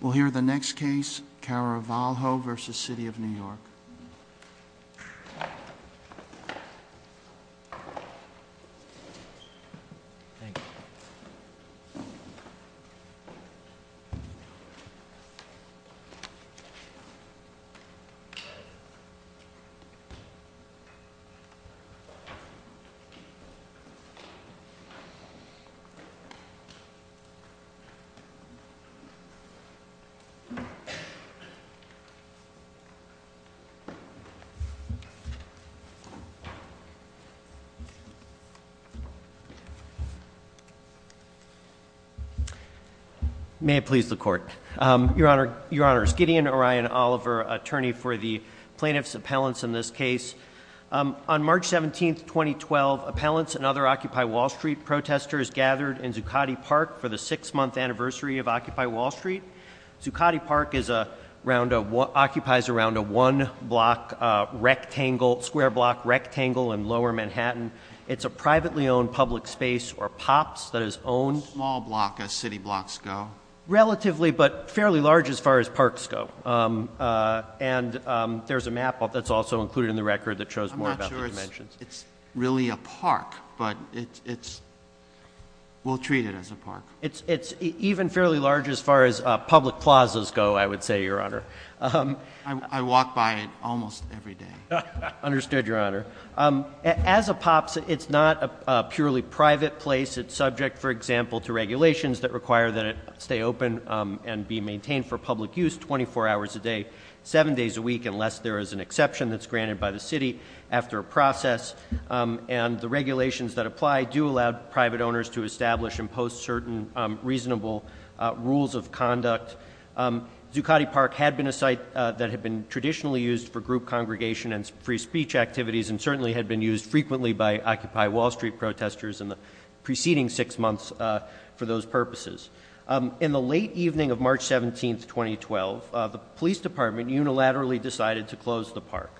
We'll hear the next case, Caravalho v. City of New York. May it please the Court. Your Honor, Skiddy and Orion Oliver, attorney for the plaintiff's appellants in this case. On March 17, 2012, appellants and other Occupy Wall Street protesters gathered in Zuccotti Park. Zuccotti Park occupies around a one block rectangle, square block rectangle in Lower Manhattan. It's a privately owned public space, or POPs, that is owned... A small block as city blocks go? Relatively, but fairly large as far as parks go. And there's a map that's also included in the record that shows more about the dimensions. I'm not sure it's really a park, but we'll treat it as a park. It's even fairly large as far as public plazas go, I would say, Your Honor. I walk by it almost every day. Understood, Your Honor. As a POPs, it's not a purely private place. It's subject, for example, to regulations that require that it stay open and be maintained for public use 24 hours a day, seven days a week, unless there is an exception that's granted by the city after a process. And the regulations that apply do allow private owners to establish and post certain reasonable rules of conduct. Zuccotti Park had been a site that had been traditionally used for group congregation and free speech activities, and certainly had been used frequently by Occupy Wall Street protesters in the preceding six months for those purposes. In the late evening of March 17th, 2012, the police department unilaterally decided to close the park.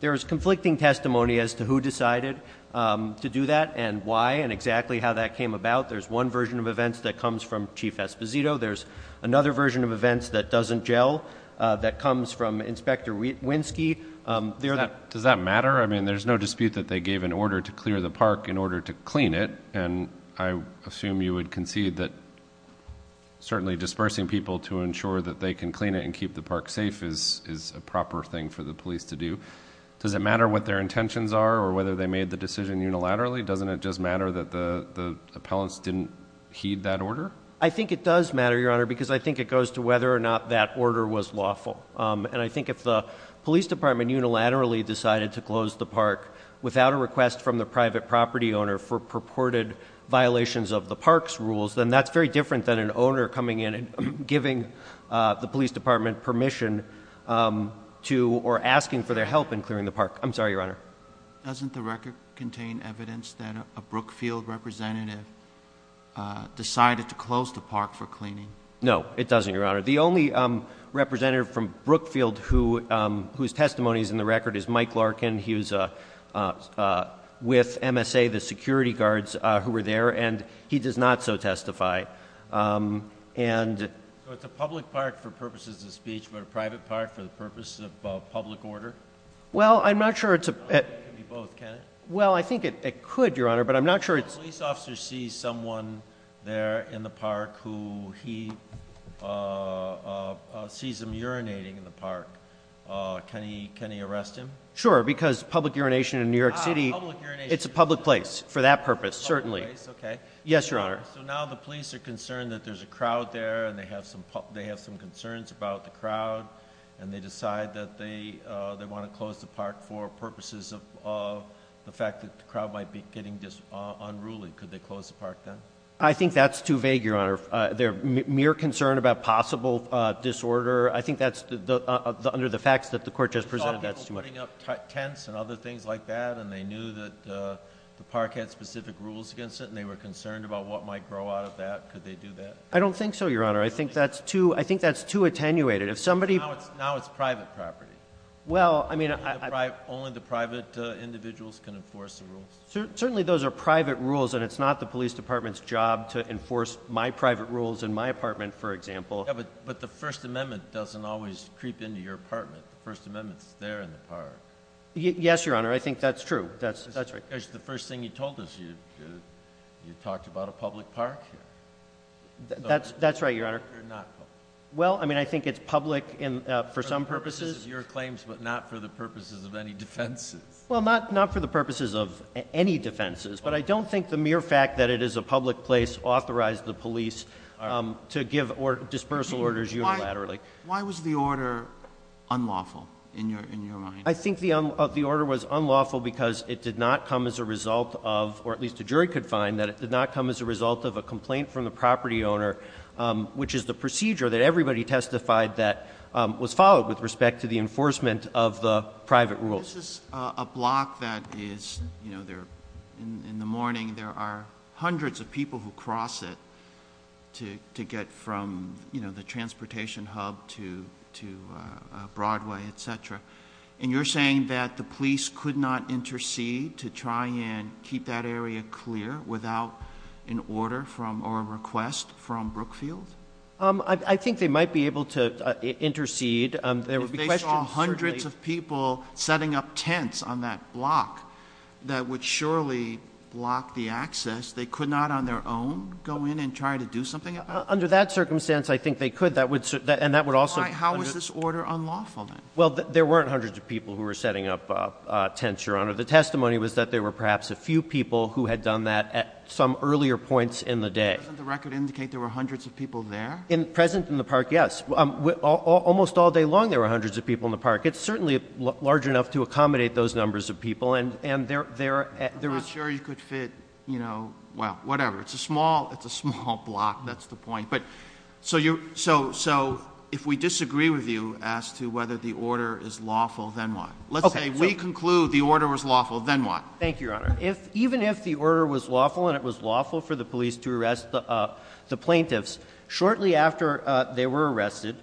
There is conflicting testimony as to who decided to do that and why and exactly how that came about. There's one version of events that comes from Chief Esposito. There's another version of events that doesn't gel, that comes from Inspector Winsky. Does that matter? I mean, there's no dispute that they gave an order to clear the park in order to clean it. And I assume you would concede that certainly dispersing people to ensure that they can clean it and for the police to do, does it matter what their intentions are or whether they made the decision unilaterally? Doesn't it just matter that the appellants didn't heed that order? I think it does matter, Your Honor, because I think it goes to whether or not that order was lawful. And I think if the police department unilaterally decided to close the park without a request from the private property owner for purported violations of the park's rules, then that's very different than an owner coming in and giving the police department permission to, or asking for their help in clearing the park. I'm sorry, Your Honor. Doesn't the record contain evidence that a Brookfield representative decided to close the park for cleaning? No, it doesn't, Your Honor. The only representative from Brookfield whose testimony is in the record is Mike Larkin. He was with MSA, the security guards who were there, and he does not so testify. And- So it's a public park for purposes of speech, but a private park for the purpose of public order? Well, I'm not sure it's a- It could be both, can it? Well, I think it could, Your Honor, but I'm not sure it's- If a police officer sees someone there in the park who he sees him urinating in the park, can he arrest him? Sure, because public urination in New York City- Public urination. It's a public place for that purpose, certainly. Public place, okay. Yes, Your Honor. So now the police are concerned that there's a crowd there, and they have some concerns about the crowd, and they decide that they want to close the park for purposes of the fact that the crowd might be getting unruly. Could they close the park then? I think that's too vague, Your Honor. Their mere concern about possible disorder, I think that's, under the facts that the court just presented, that's too vague. It's all people putting up tents and other things like that, and they knew that the park had specific rules against it. And they were concerned about what might grow out of that. Could they do that? I don't think so, Your Honor. I think that's too attenuated. If somebody- Now it's private property. Well, I mean- Only the private individuals can enforce the rules. Certainly those are private rules, and it's not the police department's job to enforce my private rules in my apartment, for example. Yeah, but the First Amendment doesn't always creep into your apartment. The First Amendment's there in the park. Yes, Your Honor. I think that's true. That's right. Because the first thing you told us, you talked about a public park. That's right, Your Honor. They're not public. Well, I mean, I think it's public for some purposes. Your claims, but not for the purposes of any defenses. Well, not for the purposes of any defenses. But I don't think the mere fact that it is a public place authorized the police to give dispersal orders unilaterally. Why was the order unlawful in your mind? I think the order was unlawful because it did not come as a result of, or at least a jury could find, that it did not come as a result of a complaint from the property owner, which is the procedure that everybody testified that was followed with respect to the enforcement of the private rules. This is a block that is, in the morning, there are hundreds of people who cross it to get from the transportation hub to Broadway, etc. And you're saying that the police could not intercede to try and keep that area clear without an order from, or a request from Brookfield? I think they might be able to intercede. There would be questions- If they saw hundreds of people setting up tents on that block, that would surely block the access, they could not on their own go in and try to do something about it? Under that circumstance, I think they could, and that would also- How was this order unlawful then? Well, there weren't hundreds of people who were setting up tents, Your Honor. The testimony was that there were perhaps a few people who had done that at some earlier points in the day. Doesn't the record indicate there were hundreds of people there? In present in the park, yes. Almost all day long, there were hundreds of people in the park. It's certainly large enough to accommodate those numbers of people, and there- I'm not sure you could fit, well, whatever. It's a small block, that's the point. So if we disagree with you as to whether the order is lawful, then what? Let's say we conclude the order was lawful, then what? Thank you, Your Honor. Even if the order was lawful, and it was lawful for the police to arrest the plaintiffs, shortly after they were arrested,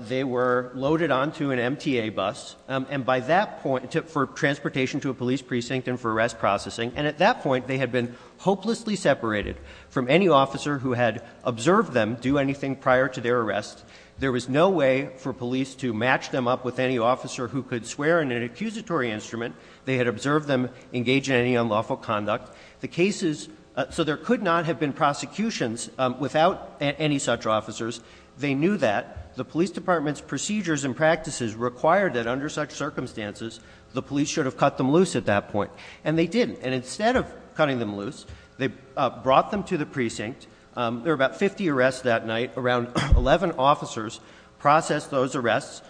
they were loaded onto an MTA bus. And by that point, for transportation to a police precinct and for arrest processing. And at that point, they had been hopelessly separated from any officer who had observed them do anything prior to their arrest. There was no way for police to match them up with any officer who could swear in an accusatory instrument. They had observed them engage in any unlawful conduct. The cases, so there could not have been prosecutions without any such officers. They knew that. The police department's procedures and practices required that under such circumstances, the police should have cut them loose at that point. And they didn't. And instead of cutting them loose, they brought them to the precinct. There were about 50 arrests that night. Around 11 officers processed those arrests,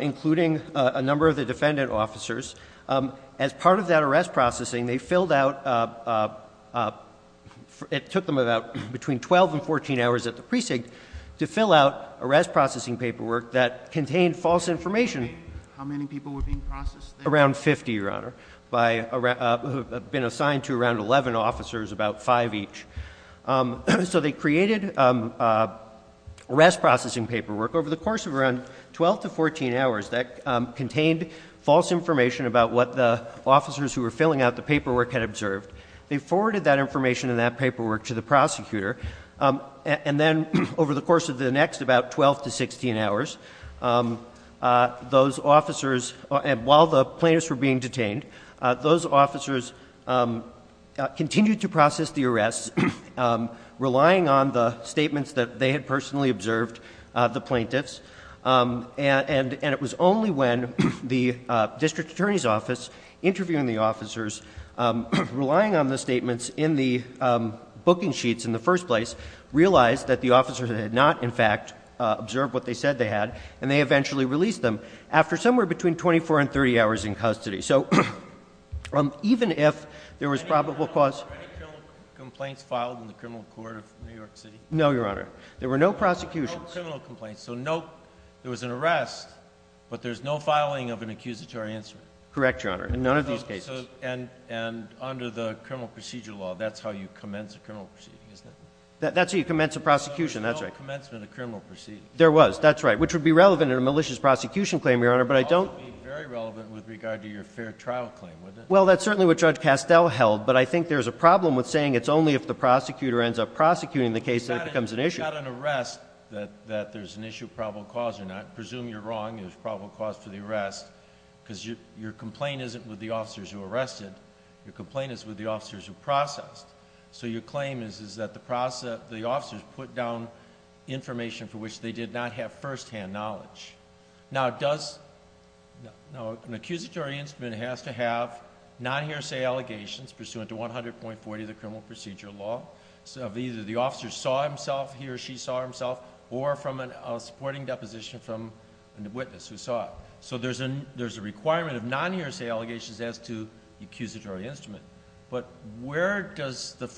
including a number of the defendant officers. As part of that arrest processing, they filled out, it took them about between 12 and 14 hours at the precinct to fill out arrest processing paperwork that contained false information. How many people were being processed there? Around 50, Your Honor, who had been assigned to around 11 officers, about five each. So they created arrest processing paperwork over the course of around 12 to 14 hours that contained false information about what the officers who were filling out the paperwork had observed. They forwarded that information and that paperwork to the prosecutor. And then over the course of the next about 12 to 16 hours, those officers, and while the plaintiffs were being detained, those officers continued to process the arrests, relying on the statements that they had personally observed, the plaintiffs. And it was only when the district attorney's office, interviewing the officers, relying on the statements in the booking sheets in the first place, realized that the officers had not, in fact, observed what they said they had, and they eventually released them after somewhere between 24 and 30 hours in custody. So even if there was probable cause- Any criminal complaints filed in the criminal court of New York City? No, Your Honor. There were no prosecutions. No criminal complaints, so no, there was an arrest, but there's no filing of an accusatory answer. Correct, Your Honor, in none of these cases. And under the criminal procedure law, that's how you commence a criminal proceeding, isn't it? That's how you commence a prosecution, that's right. No, there's no commencement of criminal proceedings. There was, that's right, which would be relevant in a malicious prosecution claim, Your Honor, but I don't- That would be very relevant with regard to your fair trial claim, wouldn't it? Well, that's certainly what Judge Castell held, but I think there's a problem with saying it's only if the prosecutor ends up prosecuting the case that it becomes an issue. It's not an arrest that there's an issue of probable cause or not. Presume you're wrong, there's probable cause for the arrest, because your complaint isn't with the officers who arrested. Your complaint is with the officers who processed. So your claim is that the officers put down information for which they did not have first-hand knowledge. Now, an accusatory instrument has to have non-hearsay allegations pursuant to 100.40 of the criminal procedure law. So either the officer saw himself, he or she saw himself, or from a supporting deposition from a witness who saw it. So there's a requirement of non-hearsay allegations as to the accusatory instrument. But where does the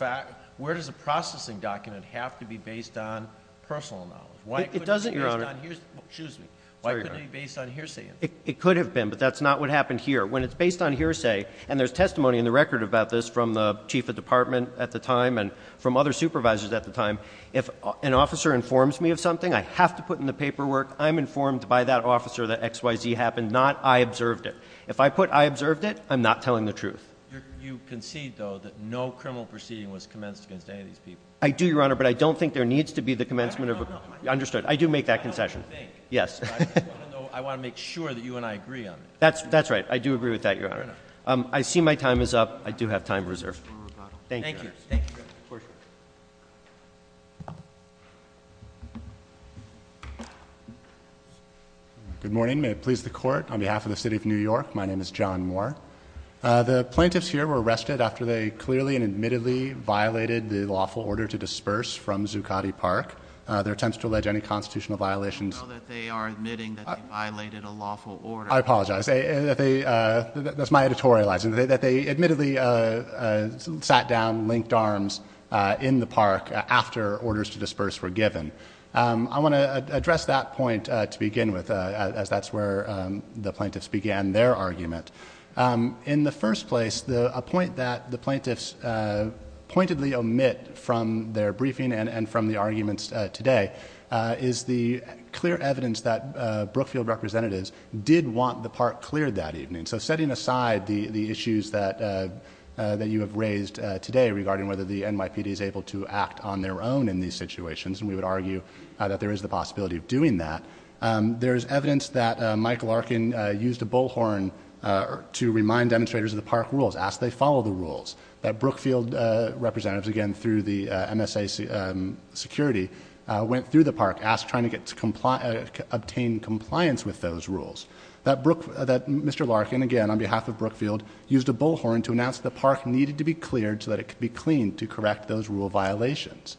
processing document have to be based on personal knowledge? Why couldn't it be based on hearsay? It could have been, but that's not what happened here. When it's based on hearsay, and there's testimony in the record about this from the chief of department at the time and from other supervisors at the time, if an officer informs me of something, I have to put in the paperwork. I'm informed by that officer that XYZ happened, not I observed it. If I put I observed it, I'm not telling the truth. You concede, though, that no criminal proceeding was commenced against any of these people. I do, Your Honor, but I don't think there needs to be the commencement of a- No, no, no. Understood. I do make that concession. I don't think. Yes. I want to make sure that you and I agree on this. That's right. I do agree with that, Your Honor. I see my time is up. I do have time reserved. Thank you. Thank you. Good morning. May it please the court. On behalf of the city of New York, my name is John Moore. The plaintiffs here were arrested after they clearly and admittedly violated the lawful order to disperse from Zuccotti Park. Their attempts to allege any constitutional violations- I know that they are admitting that they violated a lawful order. I apologize. That they, that's my editorializing, that they admittedly sat down, linked arms in the park after orders to disperse were given. I want to address that point to begin with, as that's where the plaintiffs began their argument. In the first place, a point that the plaintiffs pointedly omit from their briefing and from the arguments today is the clear evidence that Brookfield representatives did want the park cleared that evening. So setting aside the issues that you have raised today regarding whether the NYPD is able to act on their own in these situations, and we would argue that there is the possibility of doing that. There is evidence that Mike Larkin used a bullhorn to remind demonstrators of the park rules, ask they follow the rules. That Brookfield representatives, again through the MSA security, went through the park, asked trying to obtain compliance with those rules. That Mr. Larkin, again on behalf of Brookfield, used a bullhorn to announce the park needed to be cleared so that it could be cleaned to correct those rule violations.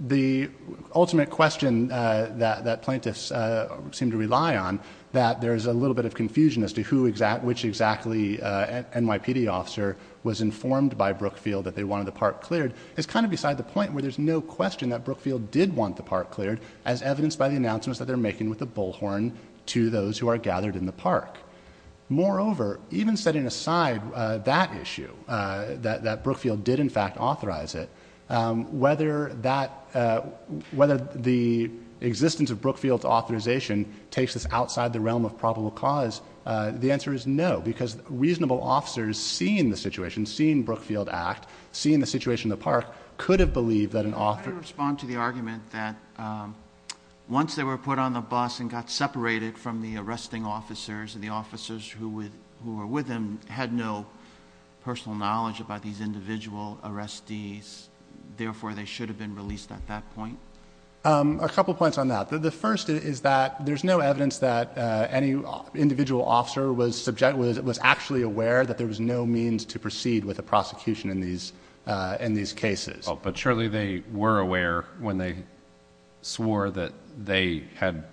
The ultimate question that plaintiffs seem to rely on, that there's a little bit of confusion as to which exactly NYPD officer was informed by Brookfield that they wanted the park cleared, is kind of beside the point where there's no question that Brookfield did want the park cleared, as evidenced by the announcements that they're making with the bullhorn to those who are gathered in the park. Moreover, even setting aside that issue, that Brookfield did in fact authorize it, whether the existence of Brookfield's authorization takes us outside the realm of probable cause, the answer is no, because reasonable officers seeing the situation, seeing Brookfield act, seeing the situation in the park, could have believed that an author- I can respond to the argument that once they were put on the bus and got separated from the arresting officers, and the officers who were with them had no personal knowledge about these individual arrestees, therefore they should have been released at that point. A couple points on that. The first is that there's no evidence that any individual officer was actually aware that there was no means to proceed with a prosecution in these cases. But surely they were aware when they swore that they had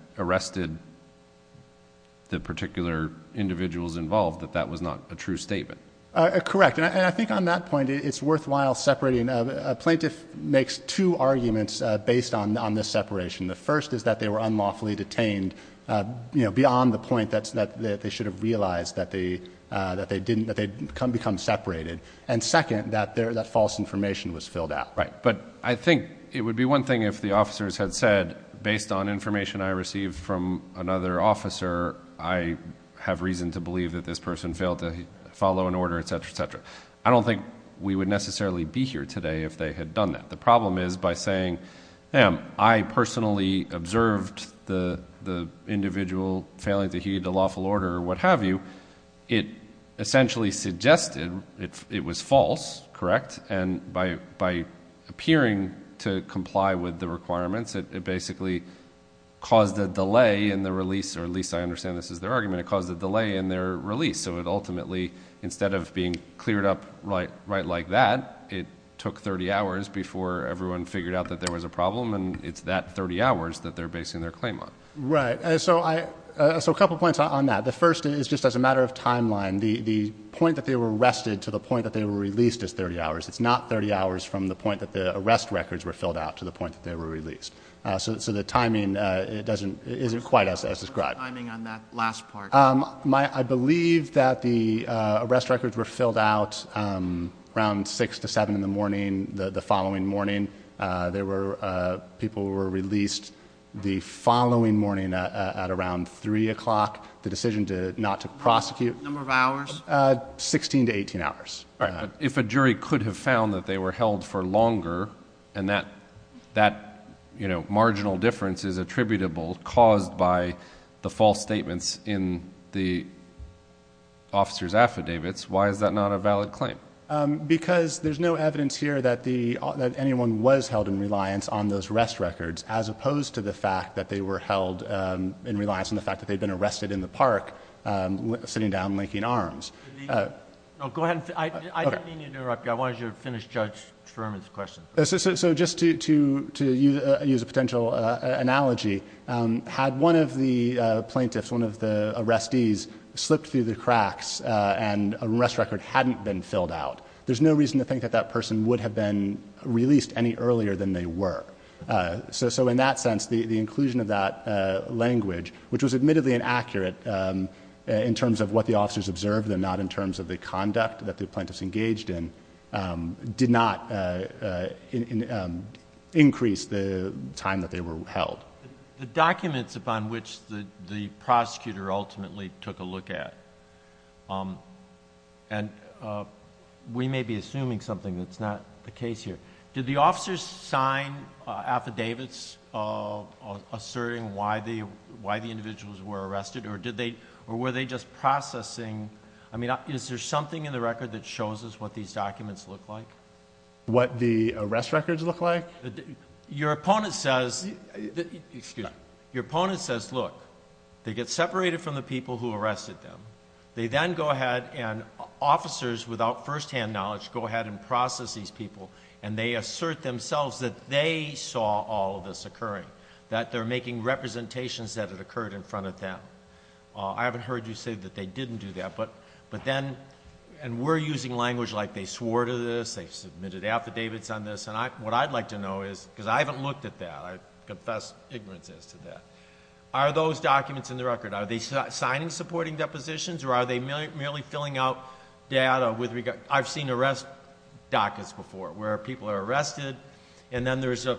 Correct, and I think on that point it's worthwhile separating, a plaintiff makes two arguments based on this separation. The first is that they were unlawfully detained beyond the point that they should have realized that they'd become separated. And second, that false information was filled out. Right, but I think it would be one thing if the officers had said, based on information I received from another officer, I have reason to believe that this person failed to follow an order, etc., etc. I don't think we would necessarily be here today if they had done that. The problem is by saying, damn, I personally observed the individual failing to heed the lawful order or what have you. It essentially suggested it was false, correct? And by appearing to comply with the requirements, it basically caused a delay in the release, or at least I understand this is their argument, it caused a delay in their release. So it ultimately, instead of being cleared up right like that, it took 30 hours before everyone figured out that there was a problem, and it's that 30 hours that they're basing their claim on. Right, so a couple points on that. The first is just as a matter of timeline, the point that they were arrested to the point that they were released is 30 hours. It's not 30 hours from the point that the arrest records were filled out to the point that they were released. So the timing isn't quite as described. What's the timing on that last part? I believe that the arrest records were filled out around 6 to 7 in the morning the following morning. There were people who were released the following morning at around 3 o'clock. The decision not to prosecute- Number of hours? 16 to 18 hours. If a jury could have found that they were held for longer, and that marginal difference is attributable caused by the false statements in the officer's affidavits, why is that not a valid claim? Because there's no evidence here that anyone was held in reliance on those rest records, as opposed to the fact that they were held in reliance on the fact that they'd been arrested in the park sitting down linking arms. Go ahead. I didn't mean to interrupt you. I wanted you to finish Judge Sherman's question. So just to use a potential analogy, had one of the plaintiffs, one of the arrestees, slipped through the cracks and an arrest record hadn't been filled out, there's no reason to think that that person would have been released any earlier than they were. So in that sense, the inclusion of that language, which was admittedly inaccurate in terms of what the officers observed, and not in terms of the conduct that the plaintiffs engaged in, did not increase the time that they were held. The documents upon which the prosecutor ultimately took a look at, and we may be assuming something that's not the case here, did the officers sign affidavits asserting why the individuals were arrested, or were they just processing? I mean, is there something in the record that shows us what these documents look like? What the arrest records look like? Your opponent says, look, they get separated from the people who arrested them. They then go ahead and officers, without first-hand knowledge, go ahead and process these people, and they assert themselves that they saw all of this occurring, that they're making representations that it occurred in front of them. I haven't heard you say that they didn't do that, but then, and we're using language like they swore to this, they submitted affidavits on this, and what I'd like to know is, because I haven't looked at that, I confess ignorance as to that, are those documents in the record, are they signing supporting depositions, or are they merely filling out data with regard, I've seen arrest dockets before, where people are arrested, and then there's a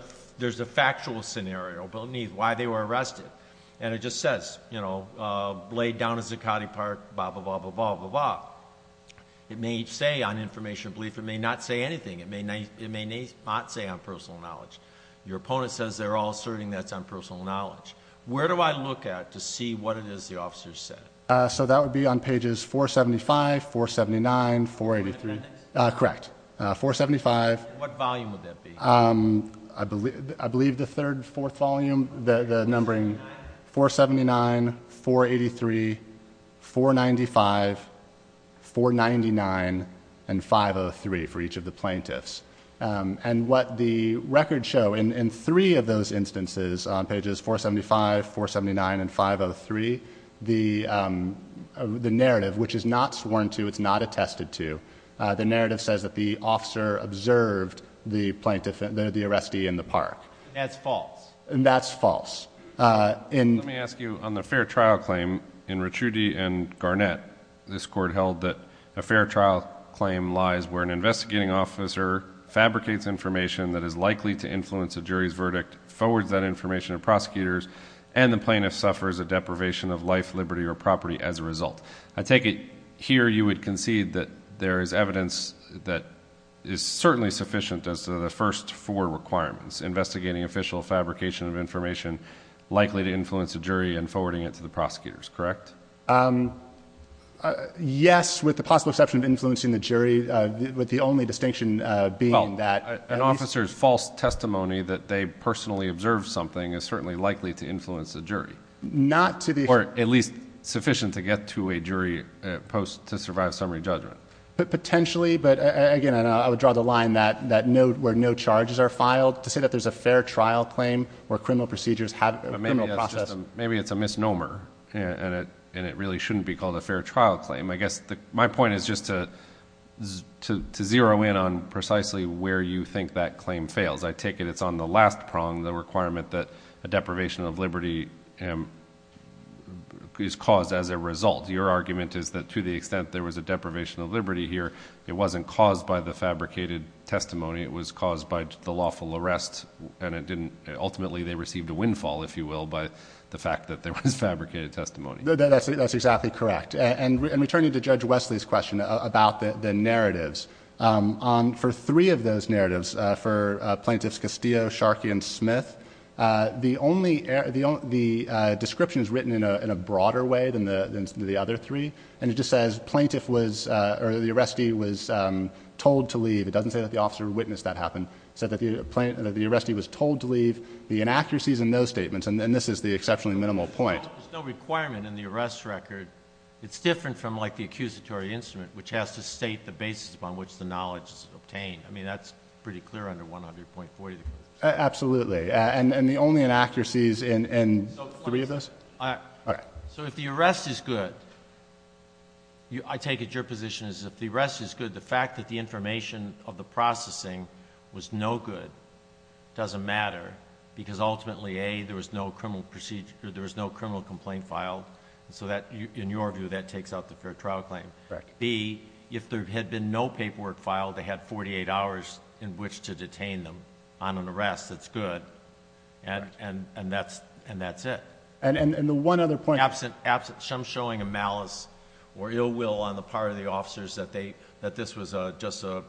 factual scenario beneath why they were arrested, and it just says, you know, laid down at Zuccotti Park, blah, blah, blah, blah, blah, blah. It may say on information belief, it may not say anything, it may not say on personal knowledge. Your opponent says they're all asserting that's on personal knowledge. Where do I look at to see what it is the officers said? So that would be on pages 475, 479, 483. Correct. 475. What volume would that be? I believe the third, fourth volume, the numbering 479, 483, 495, 499, and 503 for each of the plaintiffs. And what the records show in three of those instances on pages 475, 479, and 503, the narrative, which is not sworn to, it's not attested to, the narrative says that the officer observed the plaintiff, the arrestee in the park. And that's false. And that's false. Let me ask you, on the fair trial claim in Ricciuti and Garnett, this court held that a fair trial claim lies where an investigating officer fabricates information that is likely to influence a jury's verdict, forwards that information to prosecutors, and the plaintiff suffers a deprivation of life, liberty, or property as a result. I take it here you would concede that there is evidence that is certainly sufficient as to the first four requirements, investigating official fabrication of information likely to influence a jury and forwarding it to the prosecutors, correct? Yes, with the possible exception of influencing the jury. With the only distinction being that an officer's false testimony that they observed something is certainly likely to influence a jury. Or at least sufficient to get to a jury post to survive summary judgment. Potentially, but again, I would draw the line that where no charges are filed, to say that there's a fair trial claim where criminal procedures have a criminal process. Maybe it's a misnomer and it really shouldn't be called a fair trial claim. I guess my point is just to zero in on precisely where you think that claim fails. I take it it's on the last prong, the requirement that a deprivation of liberty is caused as a result. Your argument is that to the extent there was a deprivation of liberty here, it wasn't caused by the fabricated testimony. It was caused by the lawful arrest. Ultimately, they received a windfall, if you will, by the fact that there was fabricated testimony. That's exactly correct. And returning to Judge Wesley's question about the narratives, on for three of those narratives, for plaintiffs Castillo, Sharkey, and Smith, the description is written in a broader way than the other three. And it just says the arrestee was told to leave. It doesn't say that the officer witnessed that happen. It said that the arrestee was told to leave. The inaccuracies in those statements, and this is the exceptionally minimal point. There's no requirement in the arrest record. It's different from the accusatory instrument, which has to state the basis upon which the knowledge is obtained. I mean, that's pretty clear under 100.40. Absolutely. And the only inaccuracies in three of those? So if the arrest is good, I take it your position is if the arrest is good, the fact that the information of the processing was no good doesn't matter. Because ultimately, A, there was no criminal complaint filed. So in your view, that takes out the fair trial claim. Correct. B, if there had been no paperwork filed, they had 48 hours in which to detain them on an arrest that's good, and that's it. And the one other point... Absent... I'm showing a malice or ill will on the part of the officers that this was just a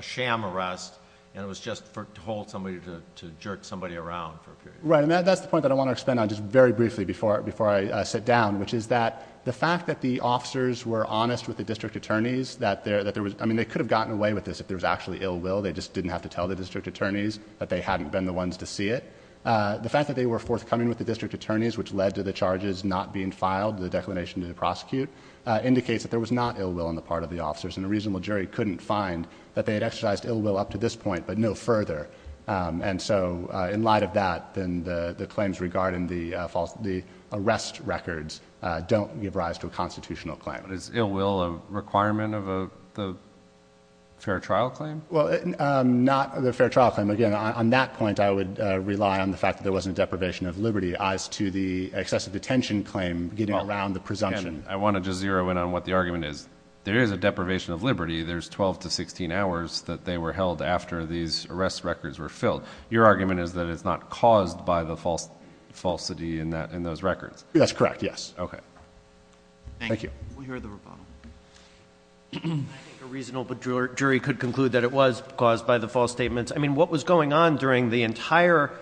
sham arrest, and it was just to hold somebody to jerk somebody around for a period. Right. And that's the point that I want to expand on just very briefly before I sit down, which is that the fact that the officers were honest with the district attorneys, that there was... I mean, they could have gotten away with this if there was actually ill will. They just didn't have to tell the district attorneys that they hadn't been the ones to see it. The fact that they were forthcoming with the district attorneys, which led to the charges not being filed, the declination to the prosecute, indicates that there was not ill will on the part of the officers. And a reasonable jury couldn't find that they had exercised ill will up to this point, but no further. And so in light of that, then the claims regarding the arrest records don't give rise to a constitutional claim. But is ill will a requirement of the fair trial claim? Well, not the fair trial claim. Again, on that point, I would rely on the fact that there wasn't a deprivation of liberty as to the excessive detention claim getting around the presumption. I want to just zero in on what the argument is. There is a deprivation of liberty. There's 12 to 16 hours that they were held after these arrest records were filled. Your argument is that it's not caused by the falsity in those records? That's correct, yes. OK. Thank you. Thank you. We'll hear the rebuttal. I think a reasonable jury could conclude that it was caused by the false statements. I mean, what was going on during the entire,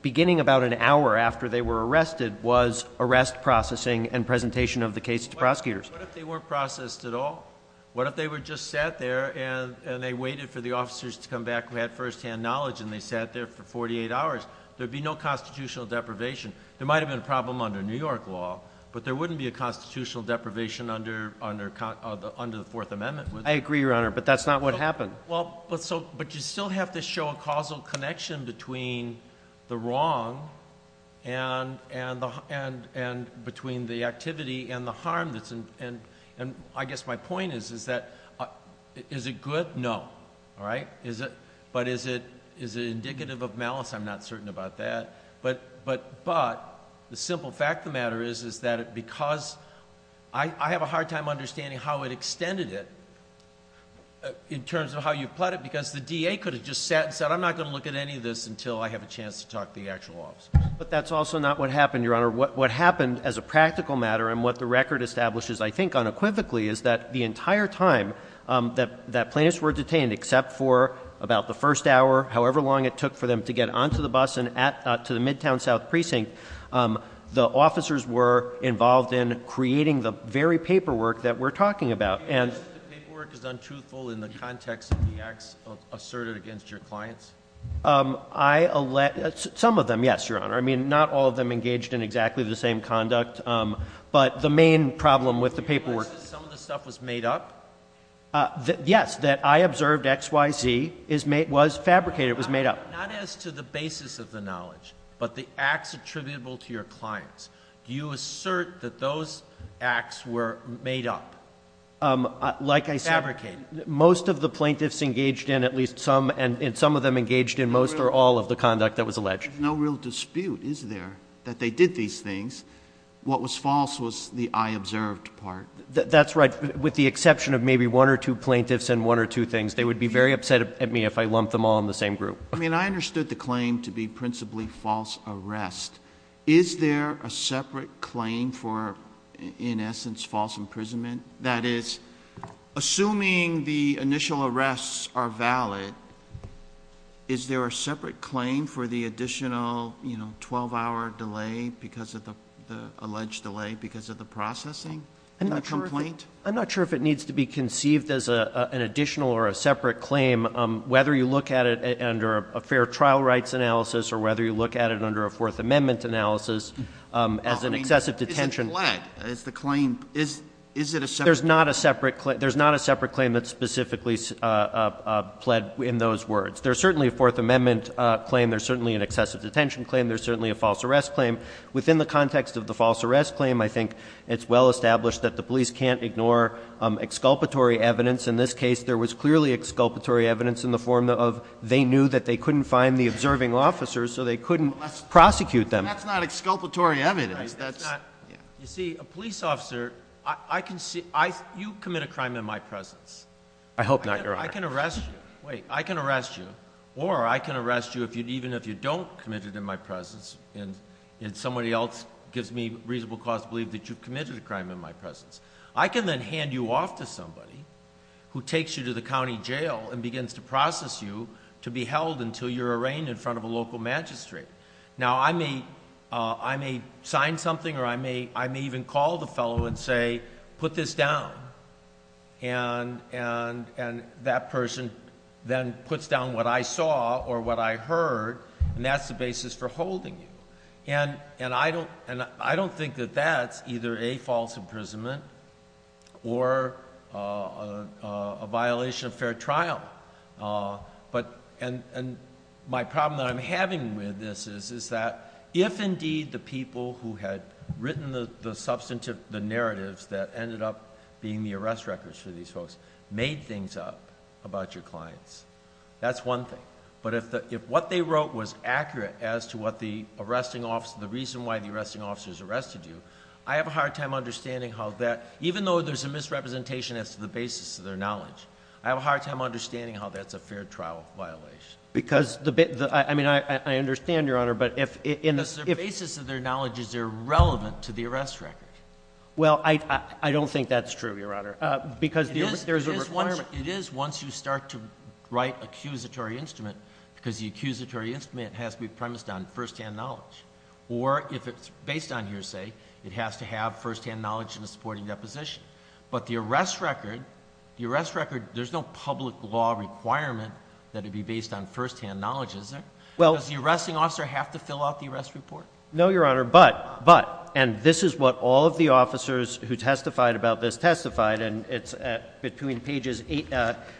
beginning about an hour after they were arrested, was arrest processing and presentation of the case to prosecutors. What if they weren't processed at all? What if they were just sat there and they waited for the officers to come back who had firsthand knowledge and they sat there for 48 hours? There'd be no constitutional deprivation. There might have been a problem under New York law, but there wouldn't be a constitutional deprivation under the Fourth Amendment, would there? I agree, Your Honor, but that's not what happened. But you still have to show a causal connection between the wrong and between the activity and the harm that's in, and I guess my point is, is that, is it good? No. All right? Is it, but is it, is it indicative of malice? I'm not certain about that. But, but, but the simple fact of the matter is, is that it, because I, I have a hard time understanding how it extended it in terms of how you plot it, because the DA could have just sat and said, I'm not going to look at any of this until I have a chance to talk to the actual officers. But that's also not what happened, Your Honor. What happened as a practical matter, and what the record establishes, I think, unequivocally, is that the entire time that, that plaintiffs were detained, except for about the first hour, however long it took for them to get onto the bus and at, to the Midtown South Precinct, the officers were involved in creating the very paperwork that we're talking about. Do you think the paperwork is untruthful in the context of the acts asserted against your clients? I, some of them, yes, Your Honor. I mean, not all of them engaged in exactly the same conduct. But the main problem with the paperwork. Do you realize that some of the stuff was made up? Yes, that I observed X, Y, Z is made, was fabricated, was made up. Not as to the basis of the knowledge, but the acts attributable to your clients. Do you assert that those acts were made up? Like I said. Fabricated. Most of the plaintiffs engaged in at least some, and some of them engaged in most or all of the conduct that was alleged. No real dispute, is there, that they did these things. What was false was the I observed part. That's right. With the exception of maybe one or two plaintiffs and one or two things, they would be very upset at me if I lumped them all in the same group. I mean, I understood the claim to be principally false arrest. Is there a separate claim for, in essence, false imprisonment? That is, assuming the initial arrests are valid, is there a separate claim for the additional, you know, 12 hour delay because of the alleged delay, because of the processing? I'm not sure if it needs to be conceived as an additional or a separate claim. Whether you look at it under a fair trial rights analysis or whether you look at it under a fourth amendment analysis as an excessive detention. Is it pled? Is the claim, is it a separate? There's not a separate claim. There's not a separate claim that's specifically pled in those words. There's certainly a fourth amendment claim. There's certainly an excessive detention claim. There's certainly a false arrest claim. Within the context of the false arrest claim, I think it's well established that the police can't ignore exculpatory evidence. In this case, there was clearly exculpatory evidence in the form of they knew that they couldn't find the observing officers, so they couldn't prosecute them. That's not exculpatory evidence. That's not, you see, a police officer, I can see, you commit a crime in my presence. I hope not, Your Honor. I can arrest you. Wait, I can arrest you or I can arrest you even if you don't commit it in my presence and somebody else gives me reasonable cause to believe that you've committed a crime in my presence. I can then hand you off to somebody who takes you to the county jail and begins to process you to be held until you're arraigned in front of a local magistrate. Now, I may sign something or I may even call the fellow and say, put this down and that person then puts down what I saw or what I heard and that's the basis for holding you. And I don't think that that's either a false imprisonment or a violation of fair trial. But, and my problem that I'm having with this is that if indeed the people who had written the substantive, the narratives that ended up being the arrest records for these folks made things up about your clients, that's one thing. But if what they wrote was accurate as to what the arresting officer, the reason why the arresting officers arrested you, I have a hard time understanding how that, even though there's a misrepresentation as to the basis of their knowledge, I have a hard time understanding how that's a fair trial violation. Because the bit, I mean, I understand, Your Honor, but if, in the, if, Because the basis of their knowledge is irrelevant to the arrest record. Well, I don't think that's true, Your Honor. Because there's a requirement. It is once you start to write accusatory instrument, because the accusatory instrument has to be premised on first-hand knowledge. Or if it's based on hearsay, it has to have first-hand knowledge in the supporting deposition. But the arrest record, the arrest record, there's no public law requirement that it be based on first-hand knowledge, is there? Does the arresting officer have to fill out the arrest report? No, Your Honor, but, but, and this is what all of the officers who testified about this testified, and it's at, between pages eight,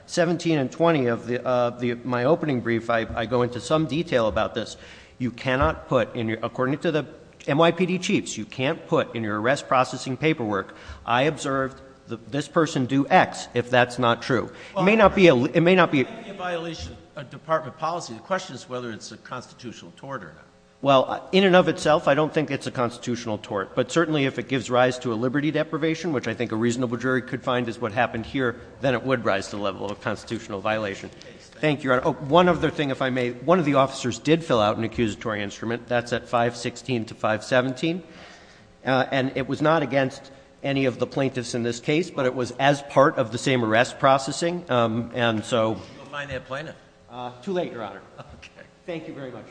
17 and 20 of the, of the, my opening brief, I, I go into some detail about this. You cannot put in your, according to the NYPD chiefs, you can't put in your arrest processing paperwork, I observed that this person do X, if that's not true. It may not be a, it may not be a violation of department policy. The question is whether it's a constitutional tort or not. Well, in and of itself, I don't think it's a constitutional tort. But certainly, if it gives rise to a liberty deprivation, which I think a reasonable jury could find is what happened here, then it would rise to the level of a constitutional Thank you, Your Honor. One other thing, if I may, one of the officers did fill out an accusatory instrument, that's at 516 to 517, and it was not against any of the plaintiffs in this case, but it was as part of the same arrest processing, and so. You don't mind that plaintiff? Too late, Your Honor. Okay. Thank you very much.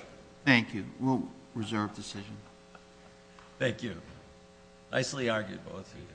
Thank you. We'll reserve decision. Thank you. Nicely argued, both of you.